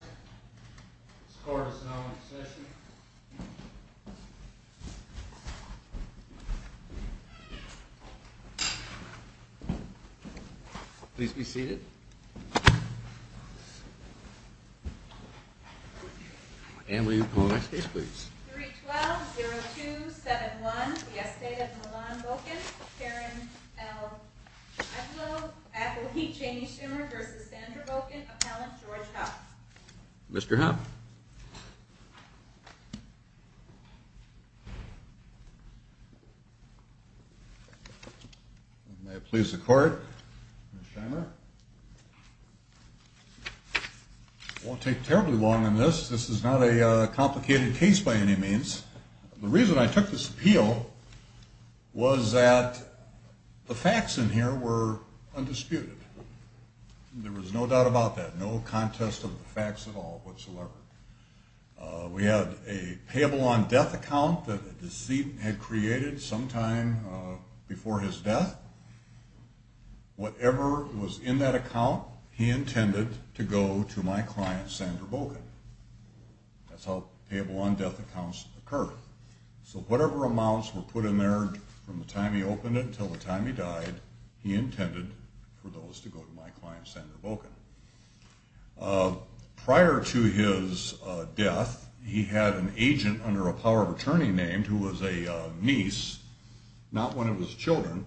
This court is now in session. Please be seated. And will you call the next case, please? 3-12-0271, the estate of Milan Bokan, Karen L. Adler, Appelheap Janie Shimer v. Sandra Bokan, Appellant George Hopps Mr. Hopps May it please the court, Ms. Shimer. I won't take terribly long on this. This is not a complicated case by any means. The reason I took this appeal was that the facts in here were undisputed. There was no doubt about that. No contest of the facts at all, whatsoever. We had a payable on death account that a deceit had created sometime before his death. Whatever was in that account, he intended to go to my client, Sandra Bokan. That's how payable on death accounts occur. So whatever amounts were put in there from the time he opened it until the time he died, he intended for those to go to my client, Sandra Bokan. Prior to his death, he had an agent under a power of attorney named, who was a niece, not one of his children,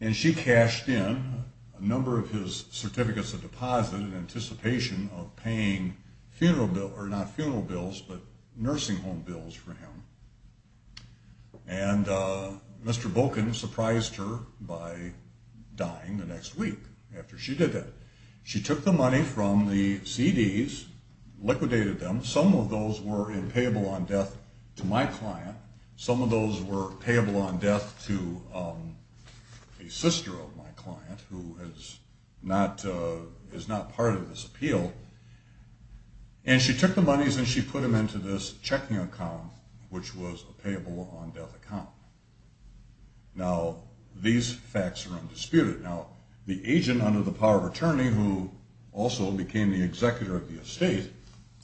and she cashed in a number of his certificates of deposit in anticipation of paying funeral bills, not funeral bills, but nursing home bills for him. And Mr. Bokan surprised her by dying the next week after she did that. She took the money from the CDs, liquidated them. Some of those were in payable on death to my client. Some of those were payable on death to a sister of my client, who is not part of this appeal. And she took the monies and she put them into this checking account, which was a payable on death account. Now, these facts are undisputed. Now, the agent under the power of attorney, who also became the executor of the estate,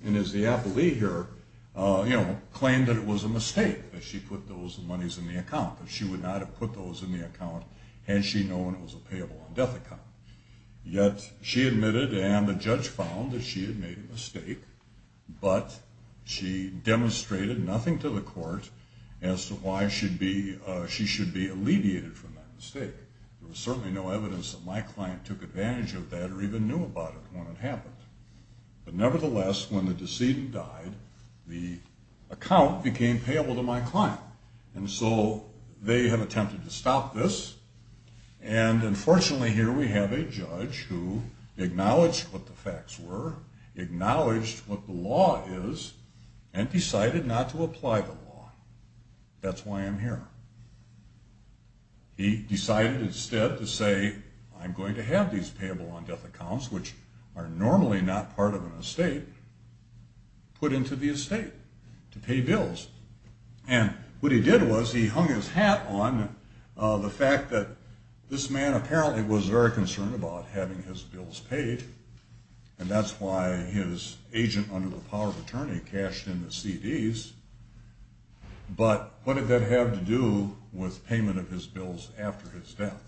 and is the appellee here, you know, claimed that it was a mistake that she put those monies in the account, that she would not have put those in the account had she known it was a payable on death account. Yet, she admitted and the judge found that she had made a mistake, but she demonstrated nothing to the court as to why she should be alleviated from that mistake. There was certainly no evidence that my client took advantage of that or even knew about it when it happened. But nevertheless, when the decedent died, the account became payable to my client. And so, they have attempted to stop this. And unfortunately, here we have a judge who acknowledged what the facts were, acknowledged what the law is, and decided not to apply the law. That's why I'm here. He decided instead to say, I'm going to have these payable on death accounts, which are normally not part of an estate, put into the estate to pay bills. And what he did was he hung his hat on the fact that this man apparently was very concerned about having his bills paid, and that's why his agent under the power of attorney cashed in the CDs. But what did that have to do with payment of his bills after his death?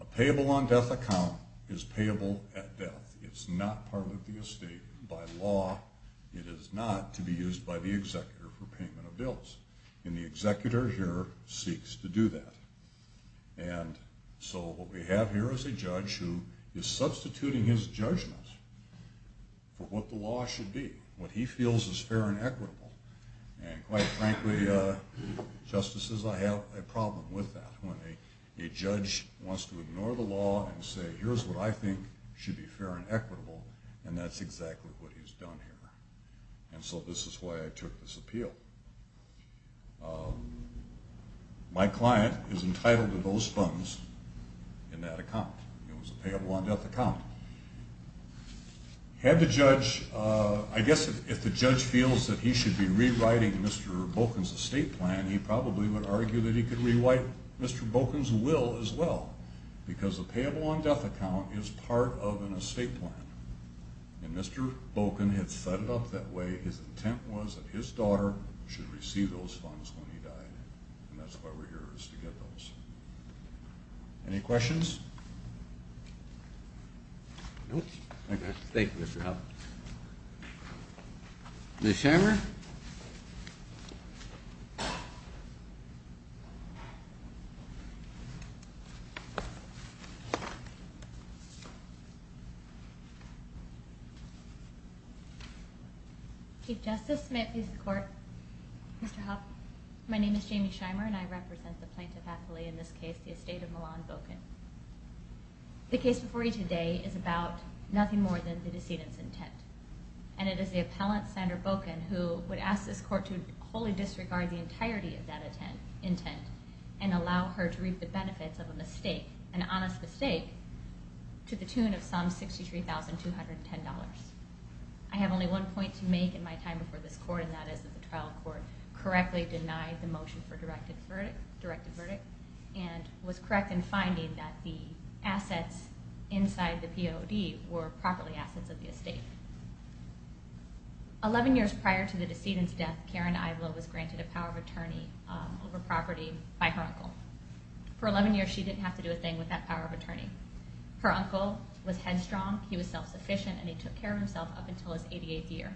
A payable on death account is payable at death. It's not part of the estate by law. It is not to be used by the executor for payment of bills. And the executor here seeks to do that. And so, what we have here is a judge who is substituting his judgment for what the law should be, what he feels is fair and equitable. And quite frankly, justices, I have a problem with that. When a judge wants to ignore the law and say, here's what I think should be fair and equitable, and that's exactly what he's done here. And so this is why I took this appeal. My client is entitled to those funds in that account. It was a payable on death account. Had the judge, I guess if the judge feels that he should be rewriting Mr. Bokin's estate plan, he probably would argue that he could rewrite Mr. Bokin's will as well. Because a payable on death account is part of an estate plan. And Mr. Bokin had set it up that way. His intent was that his daughter should receive those funds when he died. And that's why we're here, is to get those. Any questions? Nope. Thank you, Mr. Hoffman. Ms. Shimer? Chief Justice, may it please the Court. Mr. Hoffman, my name is Jamie Shimer and I represent the plaintiff happily in this case, the estate of Milan Bokin. The case before you today is about nothing more than the decedent's intent. And it is the appellant, Sandra Bokin, who would ask this Court to wholly disregard the entirety of that intent and allow her to reap the benefits of a mistake, an honest mistake, to the tune of some $63,210. I have only one point to make in my time before this Court, and that is that the trial court correctly denied the motion for directed verdict, and was correct in finding that the assets inside the POD were properly assets of the estate. Eleven years prior to the decedent's death, Karen Ivelo was granted a power of attorney over property by her uncle. For 11 years, she didn't have to do a thing with that power of attorney. Her uncle was headstrong, he was self-sufficient, and he took care of himself up until his 88th year.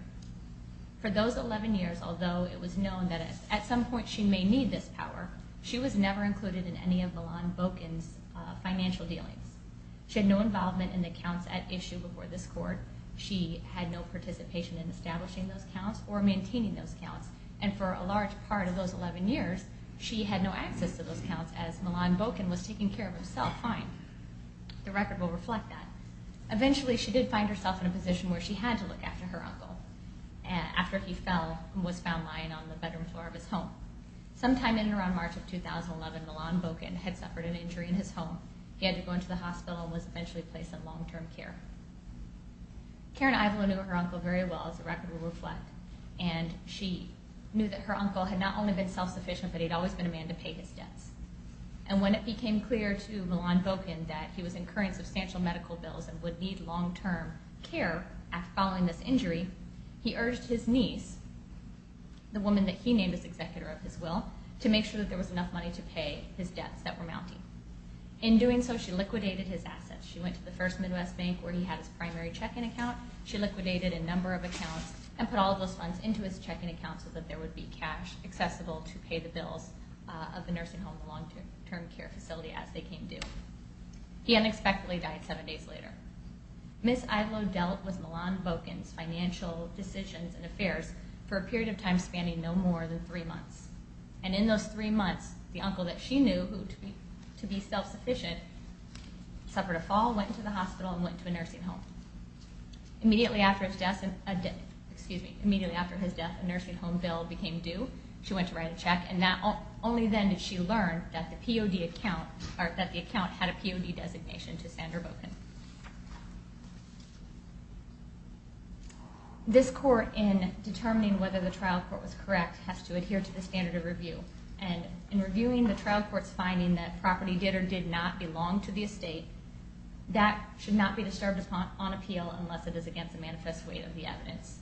For those 11 years, although it was known that at some point she may need this power, she was never included in any of Milan Bokin's financial dealings. She had no involvement in the counts at issue before this Court. She had no participation in establishing those counts or maintaining those counts. And for a large part of those 11 years, she had no access to those counts, as Milan Bokin was taking care of himself fine. The record will reflect that. Eventually, she did find herself in a position where she had to look after her uncle. After he fell, he was found lying on the bedroom floor of his home. Sometime in or around March of 2011, Milan Bokin had suffered an injury in his home. He had to go into the hospital and was eventually placed in long-term care. Karen Ivelo knew her uncle very well, as the record will reflect. And she knew that her uncle had not only been self-sufficient, but he'd always been a man to pay his debts. And when it became clear to Milan Bokin that he was incurring substantial medical bills and would need long-term care following this injury, he urged his niece, the woman that he named as executor of his will, to make sure that there was enough money to pay his debts that were mounting. In doing so, she liquidated his assets. She went to the First Midwest Bank, where he had his primary checking account. She liquidated a number of accounts and put all of those funds into his checking account so that there would be cash accessible to pay the bills of the nursing home, the long-term care facility, as they came due. He unexpectedly died seven days later. Ms. Ivelo dealt with Milan Bokin's financial decisions and affairs for a period of time spanning no more than three months. And in those three months, the uncle that she knew to be self-sufficient suffered a fall, went into the hospital, and went to a nursing home. Immediately after his death, a nursing home bill became due. She went to write a check, and only then did she learn that the account had a POD designation to Sandra Bokin. This court, in determining whether the trial court was correct, has to adhere to the standard of review. And in reviewing the trial court's finding that property did or did not belong to the estate, that should not be disturbed upon appeal unless it is against the manifest weight of the evidence,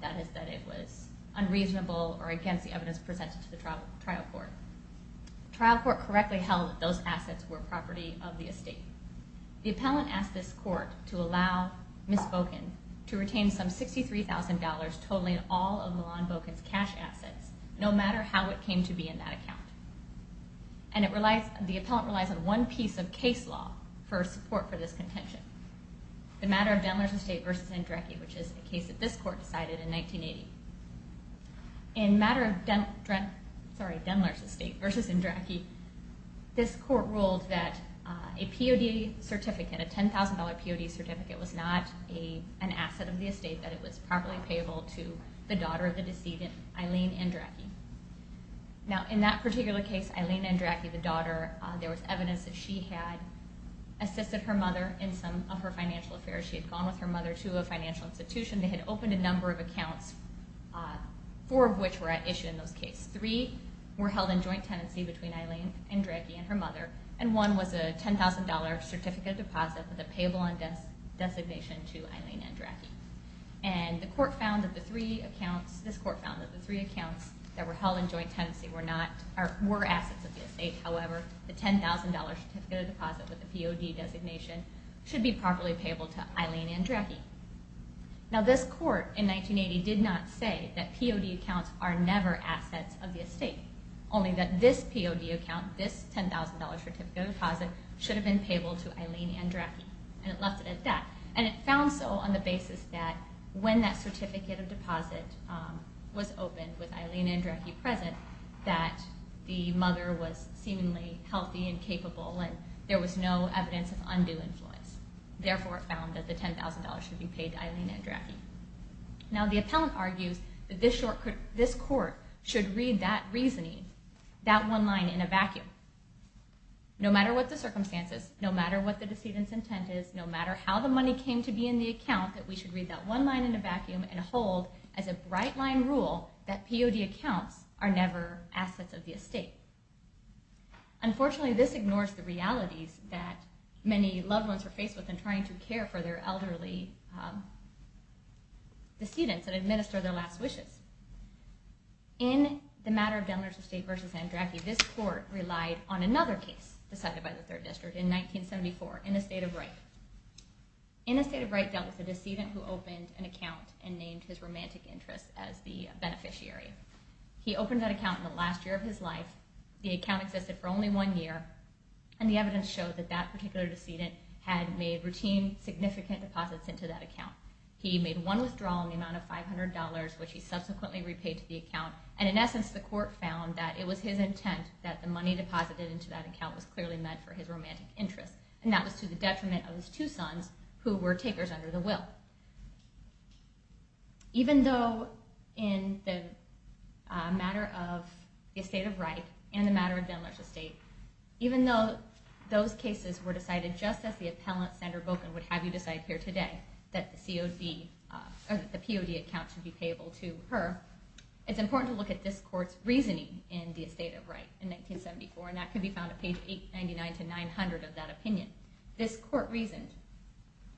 that is, that it was unreasonable or against the evidence presented to the trial court. The trial court correctly held that those assets were property of the estate. The appellant asked this court to allow Ms. Bokin to retain some $63,000 totaling all of Milan Bokin's cash assets, no matter how it came to be in that account. And the appellant relies on one piece of case law for support for this contention, the matter of Denler's Estate v. Indrecchi, which is a case that this court decided in 1980. In matter of Denler's Estate v. Indrecchi, this court ruled that a POD certificate, a $10,000 POD certificate, was not an asset of the estate, that it was properly payable to the daughter of the decedent, Eileen Indrecchi. Now, in that particular case, Eileen Indrecchi, the daughter, there was evidence that she had assisted her mother in some of her financial affairs. She had gone with her mother to a financial institution. They had opened a number of accounts, four of which were issued in those cases. Three were held in joint tenancy between Eileen Indrecchi and her mother, and one was a $10,000 certificate of deposit with a payable designation to Eileen Indrecchi. And the court found that the three accounts, this court found that the three accounts that were held in joint tenancy were assets of the estate. However, the $10,000 certificate of deposit with a POD designation should be properly payable to Eileen Indrecchi. Now, this court in 1980 did not say that POD accounts are never assets of the estate, only that this POD account, this $10,000 certificate of deposit, should have been payable to Eileen Indrecchi, and it left it at that. And it found so on the basis that when that certificate of deposit was opened with Eileen Indrecchi present, that the mother was seemingly healthy and capable, and there was no evidence of undue influence. Therefore, it found that the $10,000 should be paid to Eileen Indrecchi. Now, the appellant argues that this court should read that reasoning, that one line in a vacuum. No matter what the circumstances, no matter what the decedent's intent is, no matter how the money came to be in the account, that we should read that one line in a vacuum and hold as a bright line rule that POD accounts are never assets of the estate. Unfortunately, this ignores the realities that many loved ones are faced with in trying to care for their elderly decedents that administer their last wishes. In the matter of Demolition Estate v. Indrecchi, this court relied on another case decided by the 3rd District in 1974, in a state of right. In a state of right dealt with a decedent who opened an account and named his romantic interest as the beneficiary. He opened that account in the last year of his life. The account existed for only one year, and the evidence showed that that particular decedent had made routine, significant deposits into that account. He made one withdrawal in the amount of $500, which he subsequently repaid to the account, and in essence, the court found that it was his intent that the money deposited into that account was clearly meant for his romantic interest, and that was to the detriment of his two sons, who were takers under the will. So, even though in the matter of the estate of right, and the matter of Demolition Estate, even though those cases were decided just as the appellant, Sandra Boken, would have you decide here today, that the POD account should be payable to her, it's important to look at this court's reasoning in the estate of right in 1974, and that can be found at page 899-900 of that opinion. This court reasoned,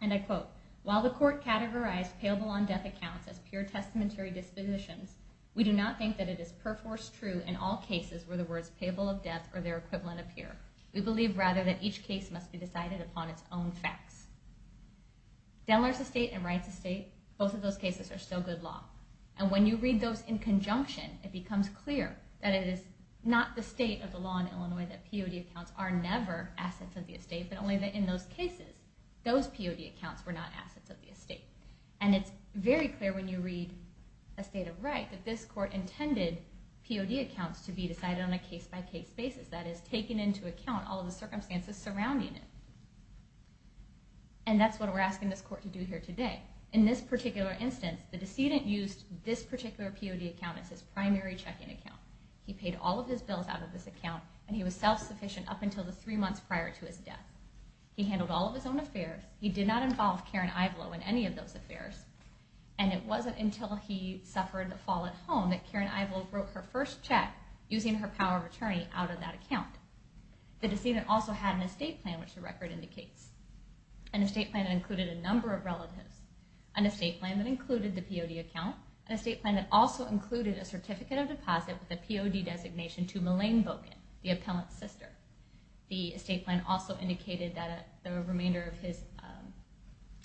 and I quote, the court categorized payable on death accounts as pure testamentary dispositions. We do not think that it is perforce true in all cases where the words payable of death or their equivalent appear. We believe, rather, that each case must be decided upon its own facts. Demolition Estate and Rights Estate, both of those cases are still good law, and when you read those in conjunction, it becomes clear that it is not the state of the law in Illinois that POD accounts are never assets of the estate, but only that in those cases, those POD accounts were not assets of the estate. And it's very clear when you read a state of right that this court intended POD accounts to be decided on a case-by-case basis, that is, taking into account all of the circumstances surrounding it. And that's what we're asking this court to do here today. In this particular instance, the decedent used this particular POD account as his primary checking account. He paid all of his bills out of this account, and he was self-sufficient up until the three months prior to his death. He handled all of his own affairs. He did not involve Karen Ivlo in any of those affairs, and it wasn't until he suffered the fall at home that Karen Ivlo wrote her first check using her power of attorney out of that account. The decedent also had an estate plan, which the record indicates. An estate plan that included a number of relatives, an estate plan that included the POD account, an estate plan that also included a certificate of deposit with a POD designation and the estate plan also indicated that the remainder of his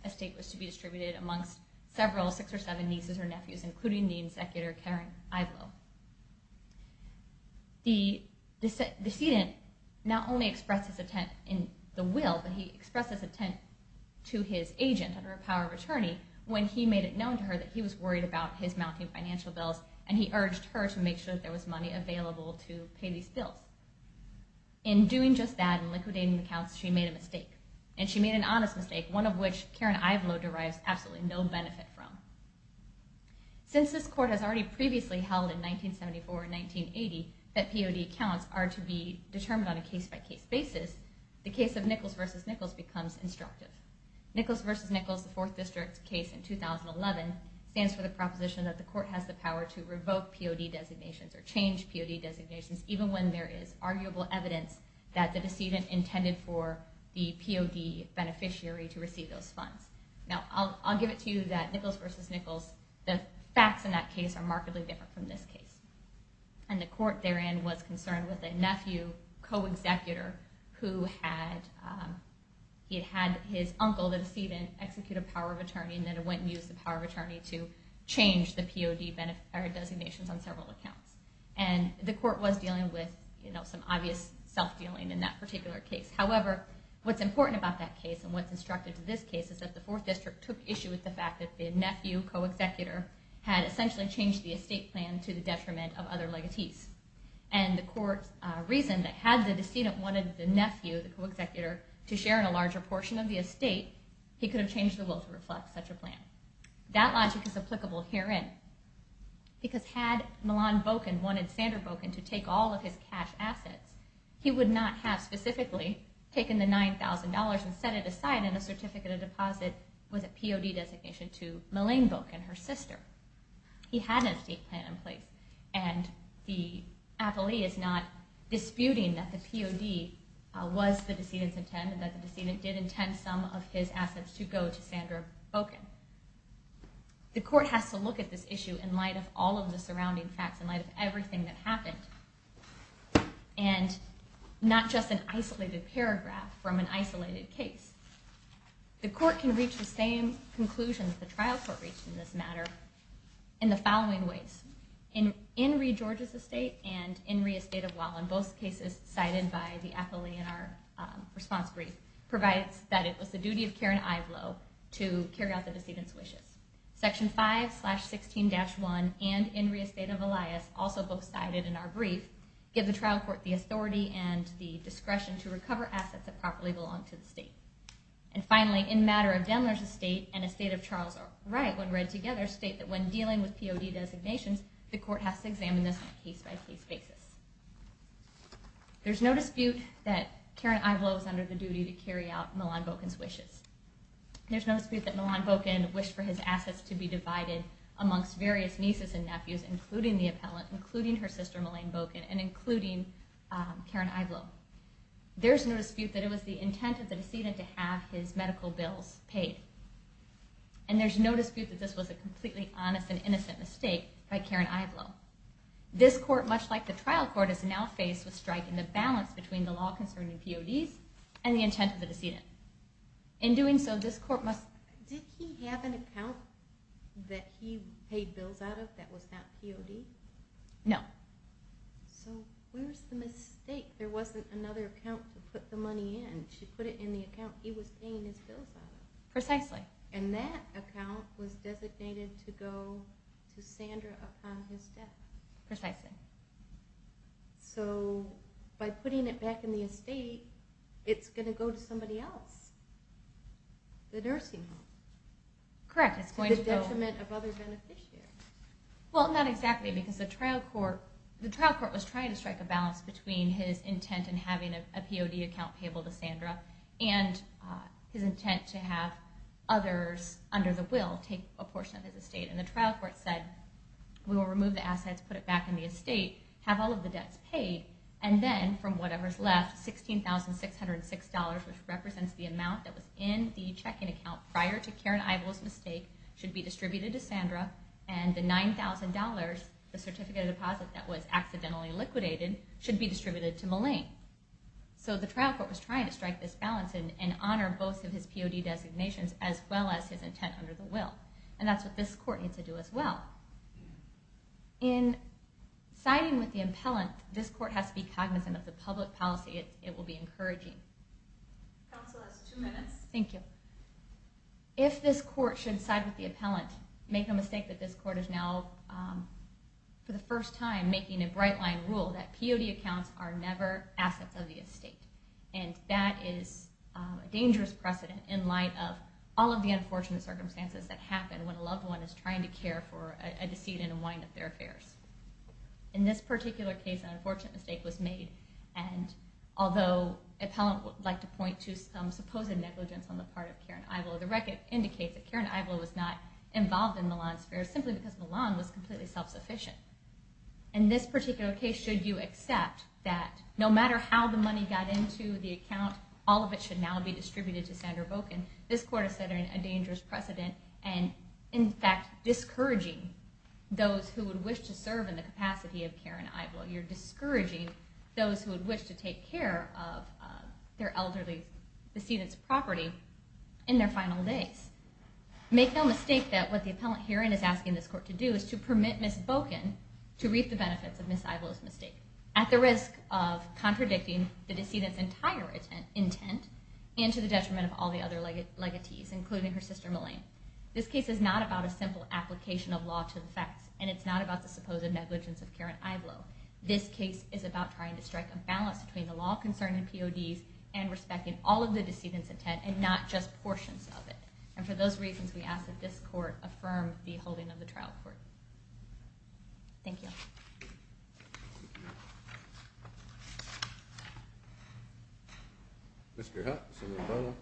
estate was to be distributed amongst several six or seven nieces or nephews, including the insecular Karen Ivlo. The decedent not only expressed his intent in the will, but he expressed his intent to his agent under a power of attorney when he made it known to her that he was worried about his mounting financial bills, and he urged her to make sure that there was money available to pay these bills. In doing just that and liquidating the accounts, she made a mistake, and she made an honest mistake, one of which Karen Ivlo derives absolutely no benefit from. Since this court has already previously held in 1974 and 1980 that POD accounts are to be determined on a case-by-case basis, the case of Nichols v. Nichols becomes instructive. Nichols v. Nichols, the Fourth District case in 2011, stands for the proposition that the court has the power to revoke POD designations or change POD designations even when there is arguable evidence that the decedent intended for the POD beneficiary to receive those funds. Now, I'll give it to you that Nichols v. Nichols, the facts in that case are markedly different from this case, and the court therein was concerned with a nephew co-executor who had his uncle, and he had the authority to change the POD designations on several accounts, and the court was dealing with some obvious self-dealing in that particular case. However, what's important about that case and what's instructive to this case is that the Fourth District took issue with the fact that the nephew co-executor had essentially changed the estate plan to the detriment of other legacies, and this logic is applicable herein, because had Milan Bokin wanted Sandra Bokin to take all of his cash assets, he would not have specifically taken the $9,000 and set it aside in a certificate of deposit with a POD designation to Malene Bokin, her sister. He had an estate plan in place, and the appellee is not disputing that the POD was the decedent's intent and that the decedent did intend some of his assets and the court has to look at this issue in light of all of the surrounding facts, in light of everything that happened, and not just an isolated paragraph from an isolated case. The court can reach the same conclusions the trial court reached in this matter in the following ways. In Reed, Georgia's estate and in Reed, a state of law, in both cases cited by the appellee in our response brief, provides that it was the duty of Karen Ivelo to carry out the decedent's wishes. Section 5, slash 16, dash 1, and in re-estate of Elias, also both cited in our brief, give the trial court the authority and the discretion to recover assets that properly belong to the state. And finally, in matter of Demler's estate and a state of Charles Wright, when read together, state that when dealing with POD designations, the court has to examine this on a case-by-case basis. There's no dispute that Milan Bocan wished for his assets to be divided amongst various nieces and nephews, including the appellant, including her sister, Malene Bocan, and including Karen Ivelo. There's no dispute that it was the intent of the decedent to have his medical bills paid. And there's no dispute that this was a completely honest and innocent mistake by Karen Ivelo. This court, much like the trial court, is now faced with striking the balance between the law concerning PODs and the state of Charles Wright. In doing so, this court must... Did he have an account that he paid bills out of that was not POD? No. So where's the mistake? There wasn't another account to put the money in. She put it in the account he was paying his bills out of. Precisely. And that account was designated to go to Sandra upon his death. Precisely. The nursing home. Correct. To the detriment of other beneficiaries. Well, not exactly, because the trial court was trying to strike a balance between his intent in having a POD account payable to Sandra and his intent to have others under the will take a portion of his estate. And the trial court said, we will remove the assets, put it back in the estate, have all of the debts paid, and the POD checking account prior to Karen Ivo's mistake should be distributed to Sandra, and the $9,000, the certificate of deposit that was accidentally liquidated, should be distributed to Malene. So the trial court was trying to strike this balance and honor both of his POD designations as well as his intent under the will. And that's what this court needs to do as well. In siding with the impellent, if this court should side with the impellent, make no mistake that this court is now, for the first time, making a bright line rule that POD accounts are never assets of the estate. And that is a dangerous precedent in light of all of the unfortunate circumstances that happen when a loved one is trying to care for a decedent and wind up their affairs. In this particular case, an unfortunate mistake was made. And although impellent would like to point to some supposed negligence on the part of Karen Ivlo, the record indicates that Karen Ivlo was not involved in Malone's affairs simply because Malone was completely self-sufficient. In this particular case, should you accept that no matter how the money got into the account, all of it should now be distributed to Sandra Boken, this court is setting a dangerous precedent and, in fact, discouraging those who would wish to serve in the capacity of Karen Ivlo. You're discouraging those who would wish to take care of their elderly decedent's property in their final days. Make no mistake that what the appellant hearing is asking this court to do is to permit Ms. Boken to reap the benefits of Ms. Ivlo's mistake at the risk of contradicting the decedent's entire intent and to the detriment of all the other legatees, including her sister Malone. This case is not about a simple application of law to the facts, and it's not about the supposed negligence of Karen Ivlo. This case is about trying to strike a balance between the law concerning PODs and respecting all of the decedent's intent and not just portions of it. And for those reasons, we ask that this court affirm the holding of the trial court. Thank you. Mr. Hutton, Senator Barlow.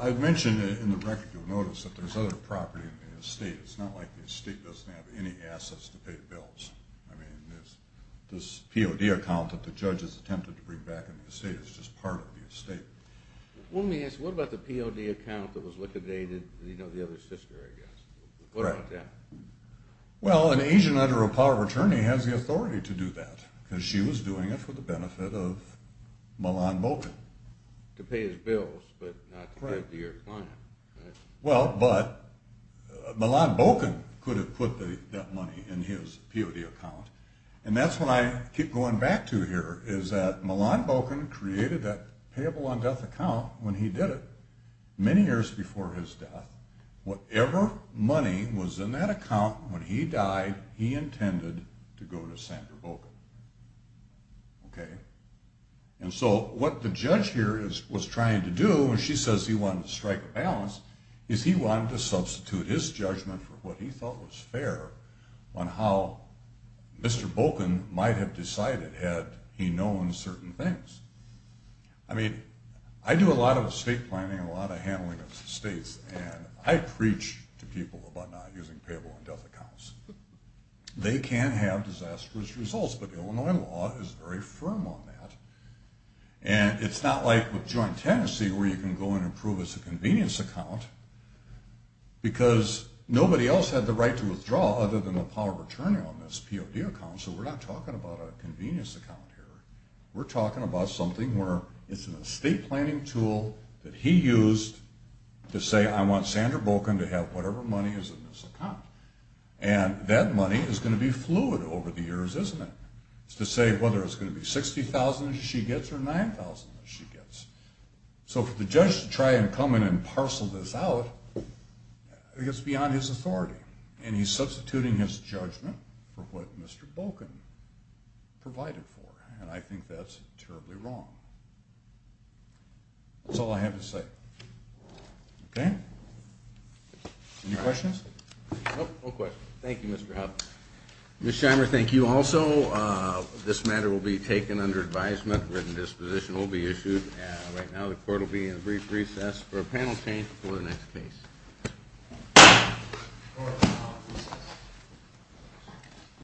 I mentioned in the record you'll notice that there's other property in the estate. It's not like the estate doesn't have any assets to pay the bills. I mean, this POD account that the judge has attempted to bring back in the estate is just part of the estate. Well, let me ask, what about the POD account that was liquidated, Well, an agent under a power of attorney has the authority to bring back the property in the estate, but it's not like the estate doesn't have any assets to pay the bills. Well, the judge has the authority to do that because she was doing it for the benefit of Milan Bolkin. To pay his bills, but not to pay up to your client. Well, but Milan Bolkin could have put that money in his POD account, and that's what I keep going back to here is that Milan Bolkin created that payable-on-death account when he did it many years before his death. Whatever money was in that account when he died, he intended to go to sleep. Okay? And so, what the judge here was trying to do when she says he wanted to strike a balance, is he wanted to substitute his judgment for what he thought was fair on how Mr. Bolkin might have decided had he known certain things. I mean, I do a lot of estate planning and a lot of handling of estates, and I preach to people about not using payable-on-death accounts. They can have disastrous results, but Illinois law is very firm on that. And it's not like with joint tenancy where you can go in and prove it's a convenience account because nobody else had the right to withdraw other than the power of attorney on this POD account, so we're not talking about a convenience account here. We're talking about something where it's an estate planning tool that he used to say, I want Sandra Bolkin to have whatever money is in this account. And that money is going to be fluid over the years, isn't it? It's to say whether it's going to be $60,000 she gets or $9,000 she gets. So for the judge to try and come in and parcel this out, it's beyond his authority, and he's substituting his judgment for what Mr. Bolkin provided for, and I think that's terribly wrong. That's all I have to say. Okay? Any questions? Nope. No questions. Thank you, Mr. Hoffman. Ms. Scheimer, thank you also. This matter will be taken under advisement. A written disposition will be issued, and right now the court will be in a brief recess for a panel change before the next case. Court is now